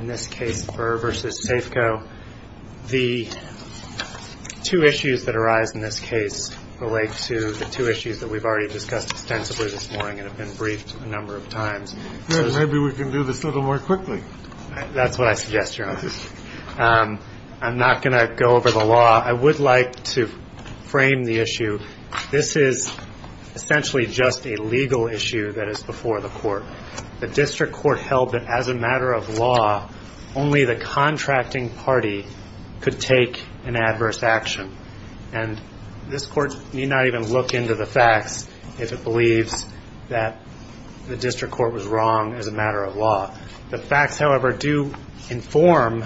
In this case, Burr v. Safco, the two issues that arise in this case relate to the two issues that we've already discussed extensively this morning and have been briefed a number of times. Maybe we can do this a little more quickly. That's what I suggest, Your Honor. I'm not going to go over the law. I would like to frame the issue. This is essentially just a legal issue that is before the court. The district court held that as a matter of law, only the contracting party could take an adverse action. And this court need not even look into the facts if it believes that the district court was wrong as a matter of law. The facts, however, do inform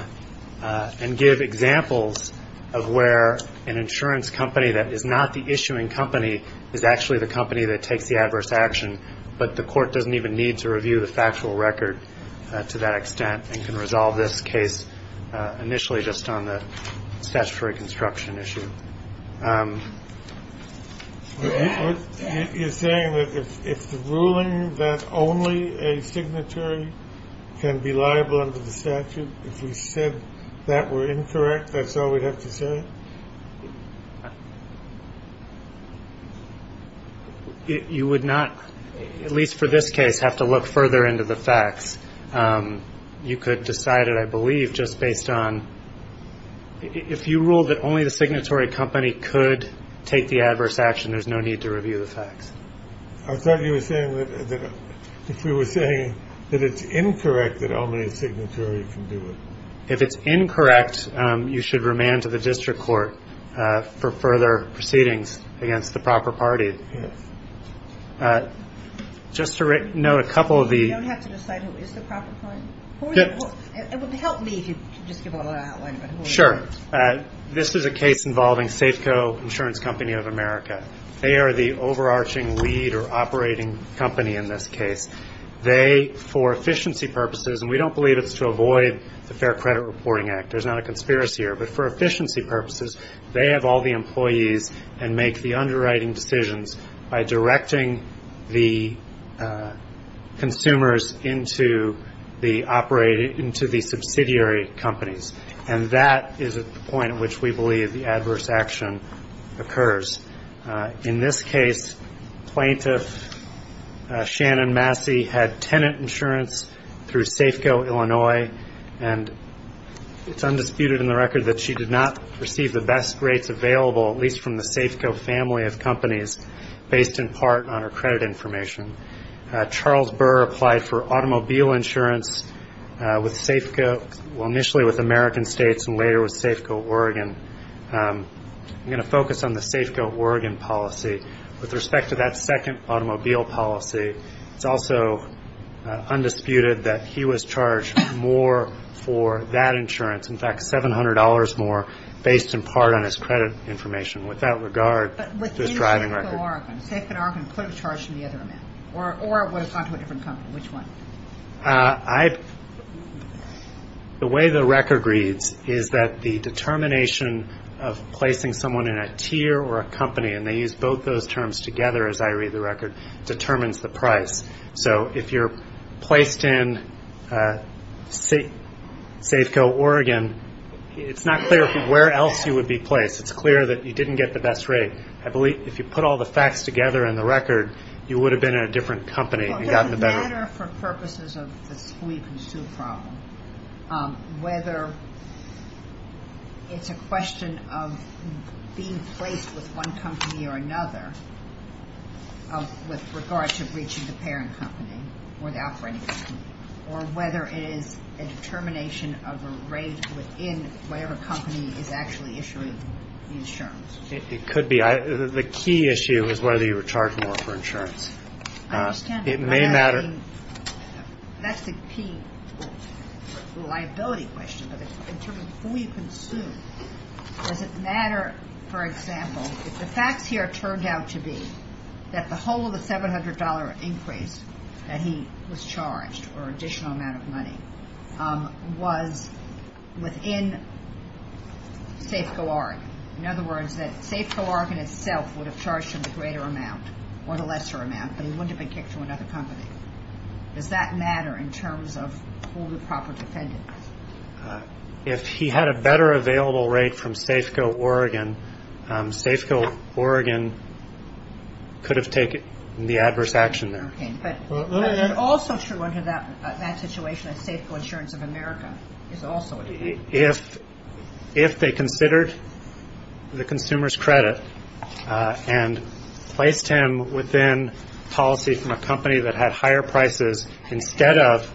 and give examples of where an insurance company that is not the issuing company is actually the company that takes the adverse action, but the court doesn't even need to review the factual record to that extent and can resolve this case initially just on the statutory construction issue. You're saying that if the ruling that only a signatory can be liable under the statute, if we said that were incorrect, that's all we'd have to say? You would not, at least for this case, have to look further into the facts. You could decide it, I believe, just based on if you ruled that only the signatory company could take the adverse action, there's no need to review the facts. I thought you were saying that if we were saying that it's incorrect that only the signatory can do it. If it's incorrect, you should remand to the district court for further proceedings against the proper party. Just to note a couple of the- You don't have to decide who is the proper party? It would help me if you could just give a little outline about who it is. Sure. This is a case involving Safeco Insurance Company of America. They are the overarching lead or operating company in this case. They, for efficiency purposes, and we don't believe it's to avoid the Fair Credit Reporting Act. There's not a conspiracy here. But for efficiency purposes, they have all the employees and make the underwriting decisions by directing the consumers into the subsidiary companies. And that is at the point at which we believe the adverse action occurs. In this case, plaintiff Shannon Massey had tenant insurance through Safeco Illinois, and it's undisputed in the record that she did not receive the best rates available, at least from the Safeco family of companies, based in part on her credit information. Charles Burr applied for automobile insurance with Safeco, well, initially with American States and later with Safeco Oregon. I'm going to focus on the Safeco Oregon policy. With respect to that second automobile policy, it's also undisputed that he was charged more for that insurance, in fact, $700 more, based in part on his credit information. With that regard to his driving record. But with Safeco Oregon, Safeco Oregon could have charged him the other amount, or it would have gone to a different company. Which one? The way the record reads is that the determination of placing someone in a tier or a company, and they use both those terms together as I read the record, determines the price. So if you're placed in Safeco Oregon, it's not clear where else you would be placed. It's clear that you didn't get the best rate. I believe if you put all the facts together in the record, you would have been in a different company. Well, it would matter for purposes of the school-you-can-sue problem, whether it's a question of being placed with one company or another with regard to breaching the parent company or the operating company, or whether it is a determination of a rate within whatever company is actually issuing the insurance. It could be. The key issue is whether you were charged more for insurance. I understand. It may matter. That's the key liability question, but in terms of who you consume, does it matter, for example, if the facts here turned out to be that the whole of the $700 increase that he was charged, or additional amount of money, was within Safeco Oregon. In other words, that Safeco Oregon itself would have charged him the greater amount or the lesser amount, but he wouldn't have been kicked from another company. Does that matter in terms of who the proper defendant is? If he had a better available rate from Safeco Oregon, Safeco Oregon could have taken the adverse action there. Okay, but also true under that situation of Safeco Insurance of America is also true. If they considered the consumer's credit and placed him within policy from a company that had higher prices instead of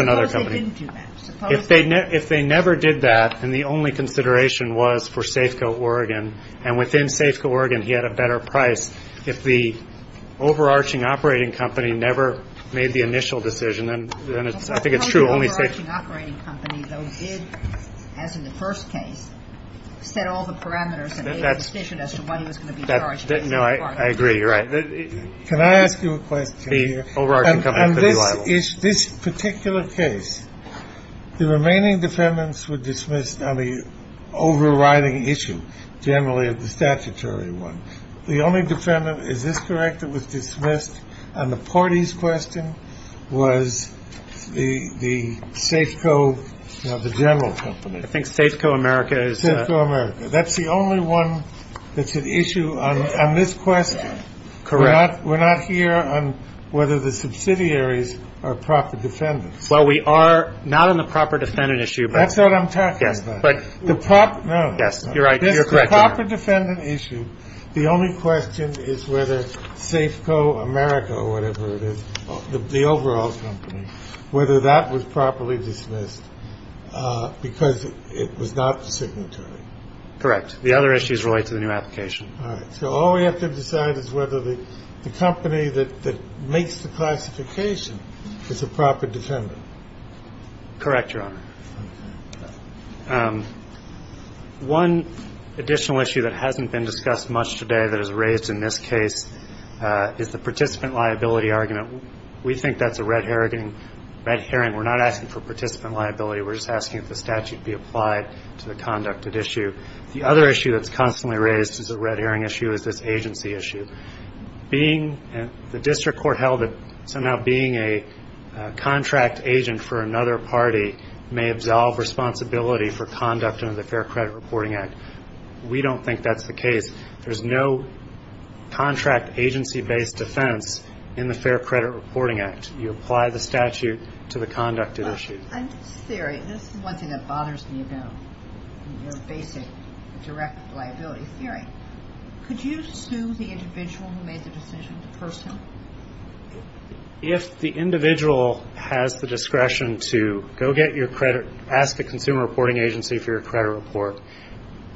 another company. Suppose they didn't do that. If they never did that and the only consideration was for Safeco Oregon, and within Safeco Oregon he had a better price, if the overarching operating company never made the initial decision, then I think it's true. The overarching operating company, though, did, as in the first case, set all the parameters and made a decision as to what he was going to be charged. No, I agree. You're right. Can I ask you a question? The overarching company could be liable. In this particular case, the remaining defendants were dismissed on the overriding issue, generally the statutory one. The only defendant, is this correct, that was dismissed on the parties question was the Safeco, you know, the general company. I think Safeco America is. Safeco America. That's the only one that's at issue on this question. Correct. We're not here on whether the subsidiaries are proper defendants. Well, we are not on the proper defendant issue. That's what I'm talking about. Yes, but. The proper, no. Yes, you're right. You're correct. The proper defendant issue, the only question is whether Safeco America or whatever it is, the overall company, whether that was properly dismissed because it was not the signatory. Correct. The other issues relate to the new application. All right. So all we have to decide is whether the company that makes the classification is a proper defendant. Correct, Your Honor. Okay. One additional issue that hasn't been discussed much today that is raised in this case is the participant liability argument. We think that's a red herring. We're not asking for participant liability. We're just asking if the statute be applied to the conducted issue. The other issue that's constantly raised as a red herring issue is this agency issue. The district court held that somehow being a contract agent for another party may absolve responsibility for conduct under the Fair Credit Reporting Act. We don't think that's the case. There's no contract agency-based defense in the Fair Credit Reporting Act. You apply the statute to the conducted issue. I'm just curious. This is one thing that bothers me about your basic direct liability theory. Could you sue the individual who made the decision, the person? If the individual has the discretion to go get your credit, ask a consumer reporting agency for your credit report,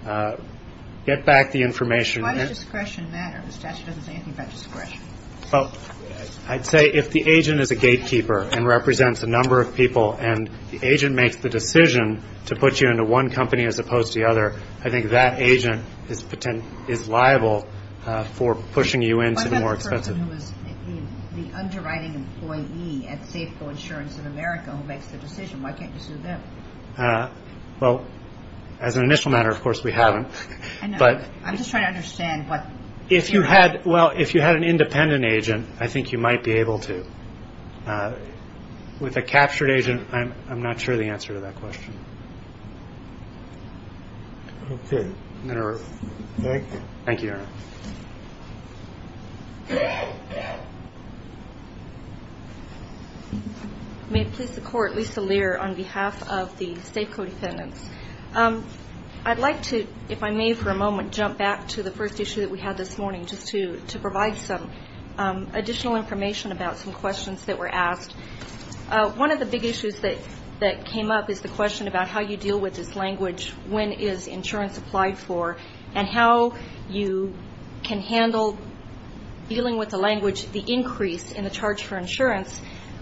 get back the information. Why does discretion matter? The statute doesn't say anything about discretion. I'd say if the agent is a gatekeeper and represents a number of people and the agent makes the decision to put you into one company as opposed to the other, I think that agent is liable for pushing you into the more expensive. What about the person who is the underwriting employee at Safeco Insurance in America who makes the decision? Why can't you sue them? Well, as an initial matter, of course, we haven't. I'm just trying to understand what you're saying. Well, if you had an independent agent, I think you might be able to. With a captured agent, I'm not sure the answer to that question. Thank you. Thank you, Your Honor. May it please the Court, Lisa Lear on behalf of the Safeco defendants. I'd like to, if I may for a moment, jump back to the first issue that we had this morning, just to provide some additional information about some questions that were asked. One of the big issues that came up is the question about how you deal with this language, when is insurance applied for, and how you can handle dealing with the language, the increase in the charge for insurance,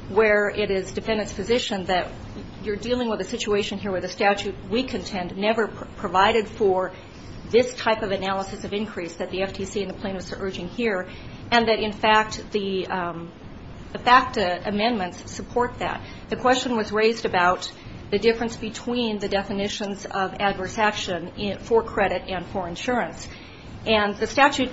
where it is defendant's position that you're dealing with a situation here where the statute we contend never provided for this type of analysis of increase that the FTC and the plaintiffs are urging here, and that, in fact, the FACTA amendments support that. The question was raised about the difference between the definitions of adverse action for credit and for insurance, and the statute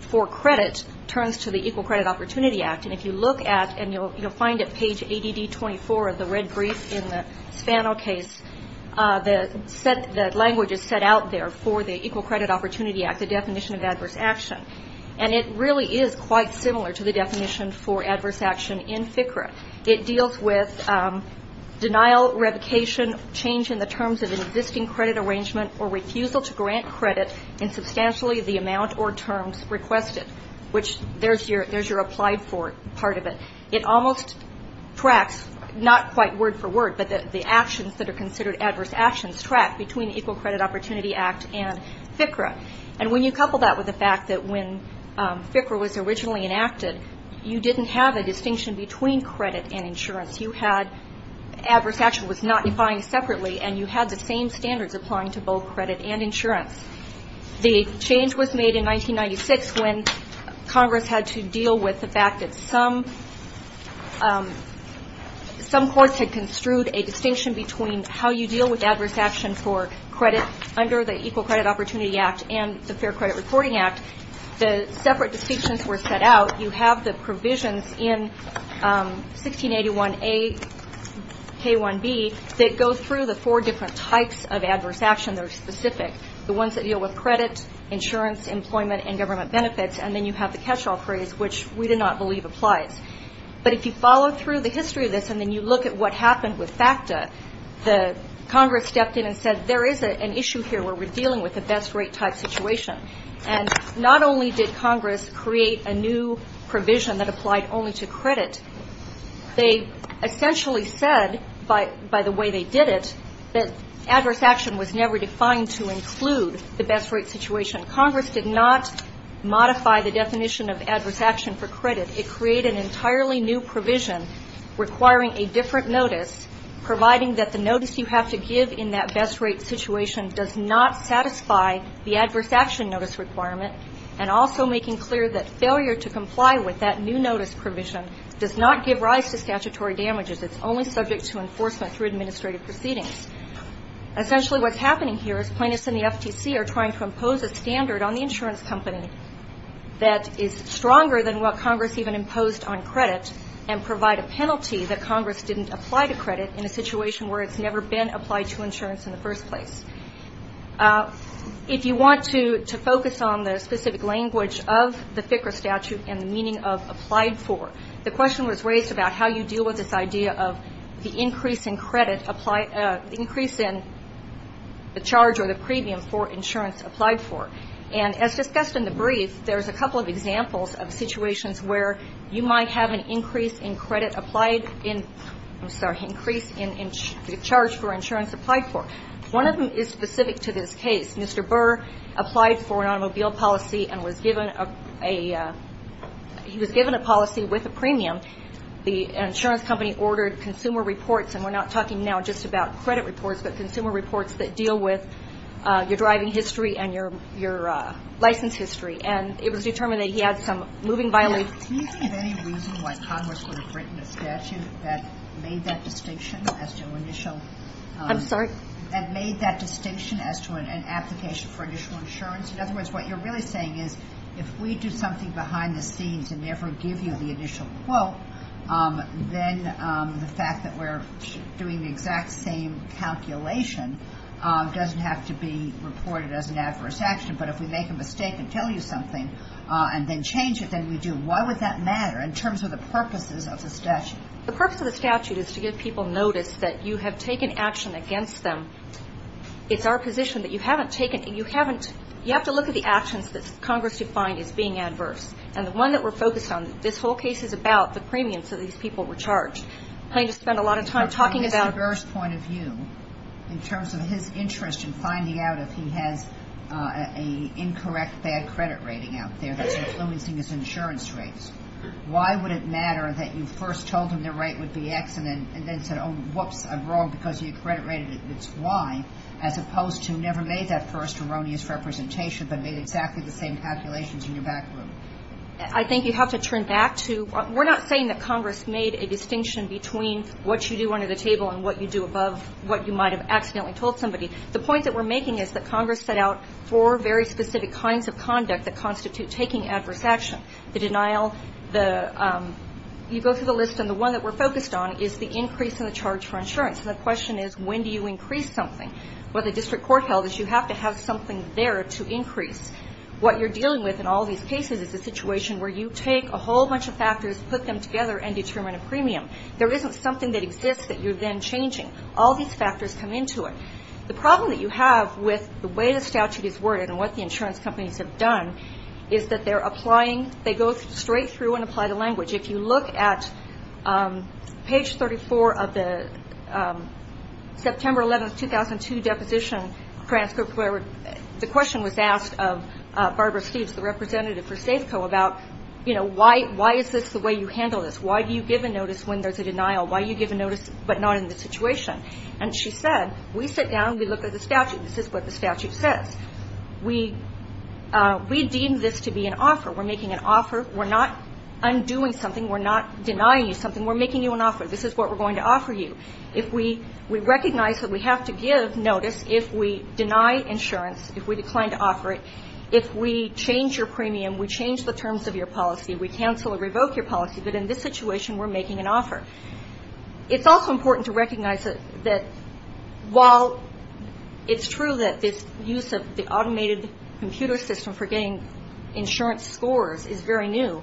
for credit turns to the Equal Credit Opportunity Act, and if you look at, and you'll find at page ADD 24 of the red brief in the Spano case, the language is set out there for the Equal Credit Opportunity Act, the definition of adverse action, and it really is quite similar to the definition for adverse action in FCRA. It deals with denial, revocation, change in the terms of an existing credit arrangement, or refusal to grant credit in substantially the amount or terms requested, which there's your applied for part of it. It almost tracks, not quite word for word, but the actions that are considered adverse actions track between the Equal Credit Opportunity Act and FCRA, and when you couple that with the fact that when FCRA was originally enacted, you didn't have a distinction between credit and insurance. You had adverse action was not defined separately, and you had the same standards applying to both credit and insurance. The change was made in 1996 when Congress had to deal with the fact that some courts had construed a distinction between how you deal with adverse action for credit under the Equal Credit Opportunity Act and the Fair Credit Reporting Act. When the separate distinctions were set out, you have the provisions in 1681A, K1B, that go through the four different types of adverse action that are specific, the ones that deal with credit, insurance, employment, and government benefits, and then you have the catch-all phrase, which we do not believe applies. But if you follow through the history of this and then you look at what happened with FACTA, Congress stepped in and said there is an issue here where we're dealing with a best rate type situation, and not only did Congress create a new provision that applied only to credit, they essentially said, by the way they did it, that adverse action was never defined to include the best rate situation. Congress did not modify the definition of adverse action for credit. It created an entirely new provision requiring a different notice, providing that the notice you have to give in that best rate situation does not satisfy the adverse action notice requirement, and also making clear that failure to comply with that new notice provision does not give rise to statutory damages. It's only subject to enforcement through administrative proceedings. Essentially what's happening here is plaintiffs in the FTC are trying to impose a standard on the insurance company that is stronger than what Congress even imposed on credit and provide a penalty that Congress didn't apply to credit in a situation where it's never been applied to insurance in the first place. If you want to focus on the specific language of the FCRA statute and the meaning of applied for, the question was raised about how you deal with this idea of the increase in credit, increase in the charge or the premium for insurance applied for. And as discussed in the brief, there's a couple of examples of situations where you might have an increase in credit applied in, I'm sorry, increase in the charge for insurance applied for. One of them is specific to this case. Mr. Burr applied for an automobile policy and was given a policy with a premium. The insurance company ordered consumer reports, and we're not talking now just about credit reports but consumer reports that deal with your driving history and your license history. And it was determined that he had some moving violations. Do you see any reason why Congress would have written a statute that made that distinction as to initial? I'm sorry? That made that distinction as to an application for initial insurance? In other words, what you're really saying is if we do something behind the scenes and never give you the initial quote, then the fact that we're doing the exact same calculation doesn't have to be reported as an adverse action. But if we make a mistake and tell you something and then change it, then we do. Why would that matter in terms of the purposes of the statute? The purpose of the statute is to give people notice that you have taken action against them. It's our position that you haven't taken, you haven't, you have to look at the actions that Congress defined as being adverse. And the one that we're focused on, this whole case is about the premiums that these people were charged. I'm not going to spend a lot of time talking about. In terms of his interest in finding out if he has an incorrect bad credit rating out there that's influencing his insurance rates, why would it matter that you first told him the rate would be X and then said, oh, whoops, I'm wrong because of your credit rating, it's Y, as opposed to never made that first erroneous representation but made exactly the same calculations in your back room? I think you have to turn back to, we're not saying that Congress made a distinction between what you do under the table and what you do above what you might have accidentally told somebody. The point that we're making is that Congress set out four very specific kinds of conduct that constitute taking adverse action. The denial, the, you go through the list, and the one that we're focused on is the increase in the charge for insurance. And the question is, when do you increase something? What the district court held is you have to have something there to increase. What you're dealing with in all these cases is a situation where you take a whole bunch of factors, put them together, and determine a premium. There isn't something that exists that you're then changing. All these factors come into it. The problem that you have with the way the statute is worded and what the insurance companies have done is that they're applying, they go straight through and apply the language. If you look at page 34 of the September 11, 2002, deposition, the question was asked of Barbara Steeves, the representative for Safeco, about, you know, why is this the way you handle this? Why do you give a notice when there's a denial? Why do you give a notice but not in this situation? And she said, we sit down, we look at the statute. This is what the statute says. We deem this to be an offer. We're making an offer. We're not undoing something. We're not denying you something. We're making you an offer. This is what we're going to offer you. If we recognize that we have to give notice, if we deny insurance, if we decline to offer it, if we change your premium, we change the terms of your policy, we cancel or revoke your policy, but in this situation we're making an offer. It's also important to recognize that while it's true that this use of the automated computer system for getting insurance scores is very new,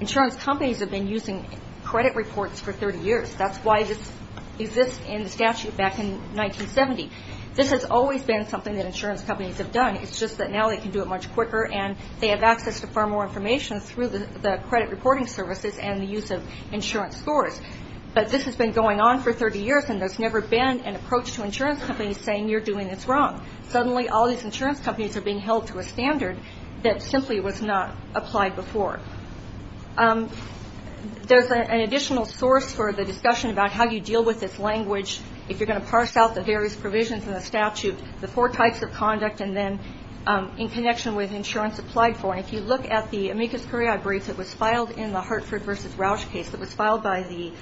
insurance companies have been using credit reports for 30 years. That's why this exists in the statute back in 1970. This has always been something that insurance companies have done. It's just that now they can do it much quicker and they have access to far more information through the credit reporting services and the use of insurance scores. But this has been going on for 30 years and there's never been an approach to insurance companies saying you're doing this wrong. Suddenly all these insurance companies are being held to a standard that simply was not applied before. There's an additional source for the discussion about how you deal with this language if you're going to parse out the various provisions in the statute, the four types of conduct and then in connection with insurance applied for. And if you look at the amicus curiae briefs that was filed in the Hartford v. Rausch case that was filed by the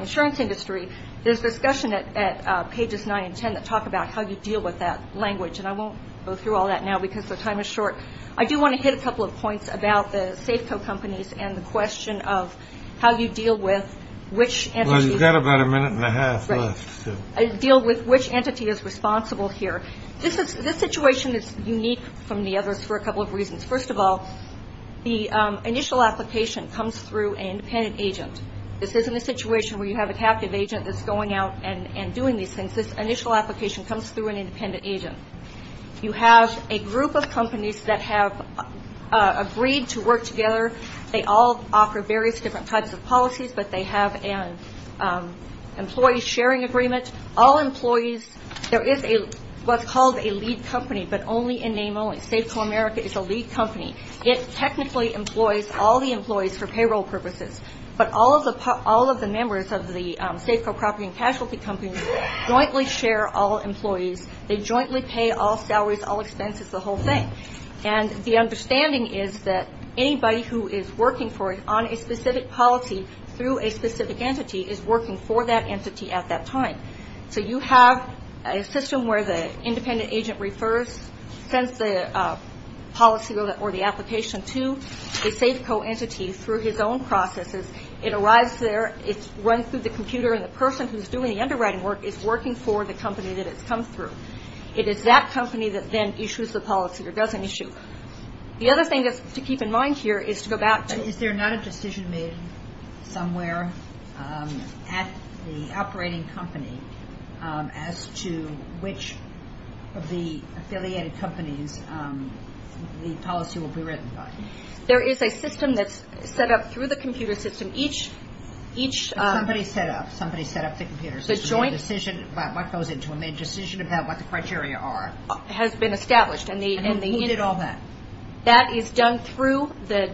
insurance industry, there's discussion at pages 9 and 10 that talk about how you deal with that language. And I won't go through all that now because the time is short. I do want to hit a couple of points about the Safeco companies and the question of how you deal with which entity. Well, you've got about a minute and a half left. Deal with which entity is responsible here. This situation is unique from the others for a couple of reasons. First of all, the initial application comes through an independent agent. This isn't a situation where you have a captive agent that's going out and doing these things. This initial application comes through an independent agent. You have a group of companies that have agreed to work together. They all offer various different types of policies, but they have an employee sharing agreement. All employees, there is what's called a lead company, but only in name only. Safeco America is a lead company. It technically employs all the employees for payroll purposes, but all of the members of the Safeco property and casualty companies jointly share all employees. They jointly pay all salaries, all expenses, the whole thing. And the understanding is that anybody who is working for it on a specific policy through a specific entity is working for that entity at that time. So you have a system where the independent agent refers, sends the policy or the application to a Safeco entity through his own processes. It arrives there. It's run through the computer, and the person who's doing the underwriting work is working for the company that it's come through. It is that company that then issues the policy or does an issue. The other thing to keep in mind here is to go back to- Is there not a decision made somewhere at the operating company as to which of the affiliated companies the policy will be written by? There is a system that's set up through the computer system. Somebody set up the computer system. They made a decision about what goes into them. They made a decision about what the criteria are. It has been established. And who did all that? That is done through the-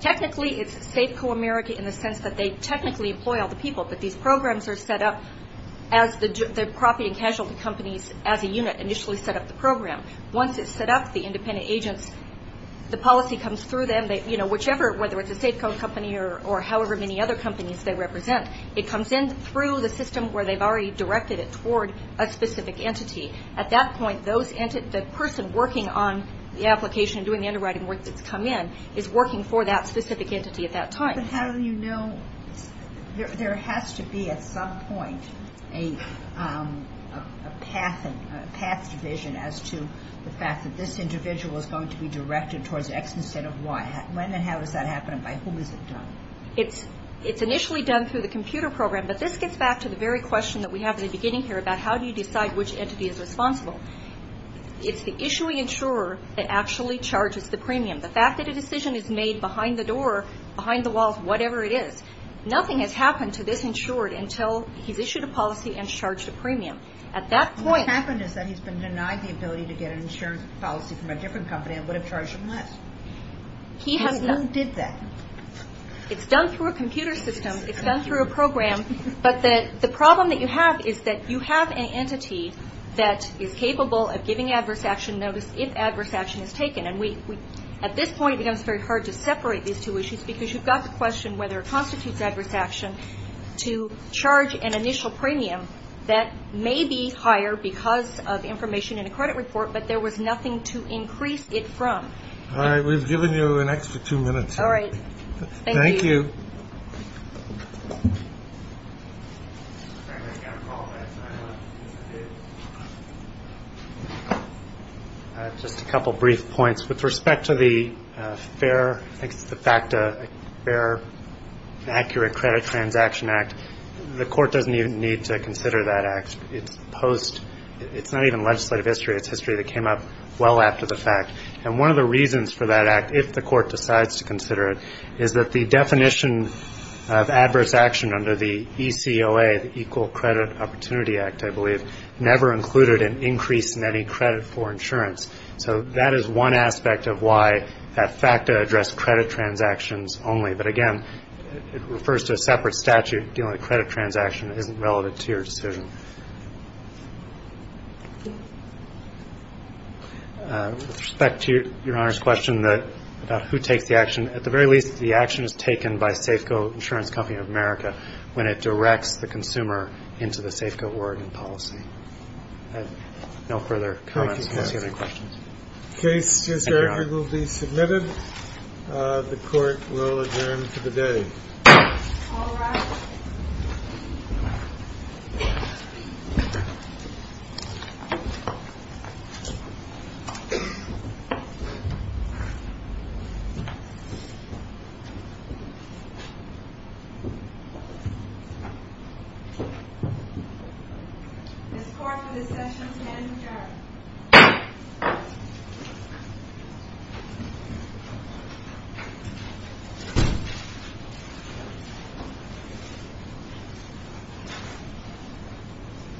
Technically, it's Safeco America in the sense that they technically employ all the people, but these programs are set up as the property and casualty companies as a unit initially set up the program. Once it's set up, the independent agents, the policy comes through them. Whichever, whether it's a Safeco company or however many other companies they represent, it comes in through the system where they've already directed it toward a specific entity. At that point, the person working on the application and doing the underwriting work that's come in is working for that specific entity at that time. But how do you know? There has to be at some point a path division as to the fact that this individual is going to be directed towards X instead of Y. When and how is that happening? By whom is it done? It's initially done through the computer program, but this gets back to the very question that we have at the beginning here about how do you decide which entity is responsible. It's the issuing insurer that actually charges the premium. The fact that a decision is made behind the door, behind the walls, whatever it is. Nothing has happened to this insured until he's issued a policy and charged a premium. At that point- What's happened is that he's been denied the ability to get an insurance policy from a different company that would have charged him less. Who did that? It's done through a computer system. It's done through a program. But the problem that you have is that you have an entity that is capable of giving adverse action notice if adverse action is taken. At this point, it becomes very hard to separate these two issues because you've got to question whether it constitutes adverse action to charge an initial premium that may be higher because of information in a credit report, but there was nothing to increase it from. All right. We've given you an extra two minutes. All right. Thank you. Thank you. Just a couple brief points. With respect to the fair, I think it's the FACTA, Fair Accurate Credit Transaction Act, the court doesn't even need to consider that act. It's post. It's not even legislative history. It's history that came up well after the fact. And one of the reasons for that act, if the court decides to consider it, is that the definition of adverse action under the ECOA, the Equal Credit Opportunity Act, I believe, never included an increase in any credit for insurance. So that is one aspect of why that FACTA addressed credit transactions only. But, again, it refers to a separate statute dealing with credit transactions that isn't relevant to your decision. With respect to Your Honor's question about who takes the action, at the very least, the action is taken by Safeco Insurance Company of America when it directs the consumer into the Safeco Oregon policy. I have no further comments unless you have any questions. Thank you, Judge. The case just recorded will be submitted. The court will adjourn to the day. All rise. This court for this session has adjourned. Thank you.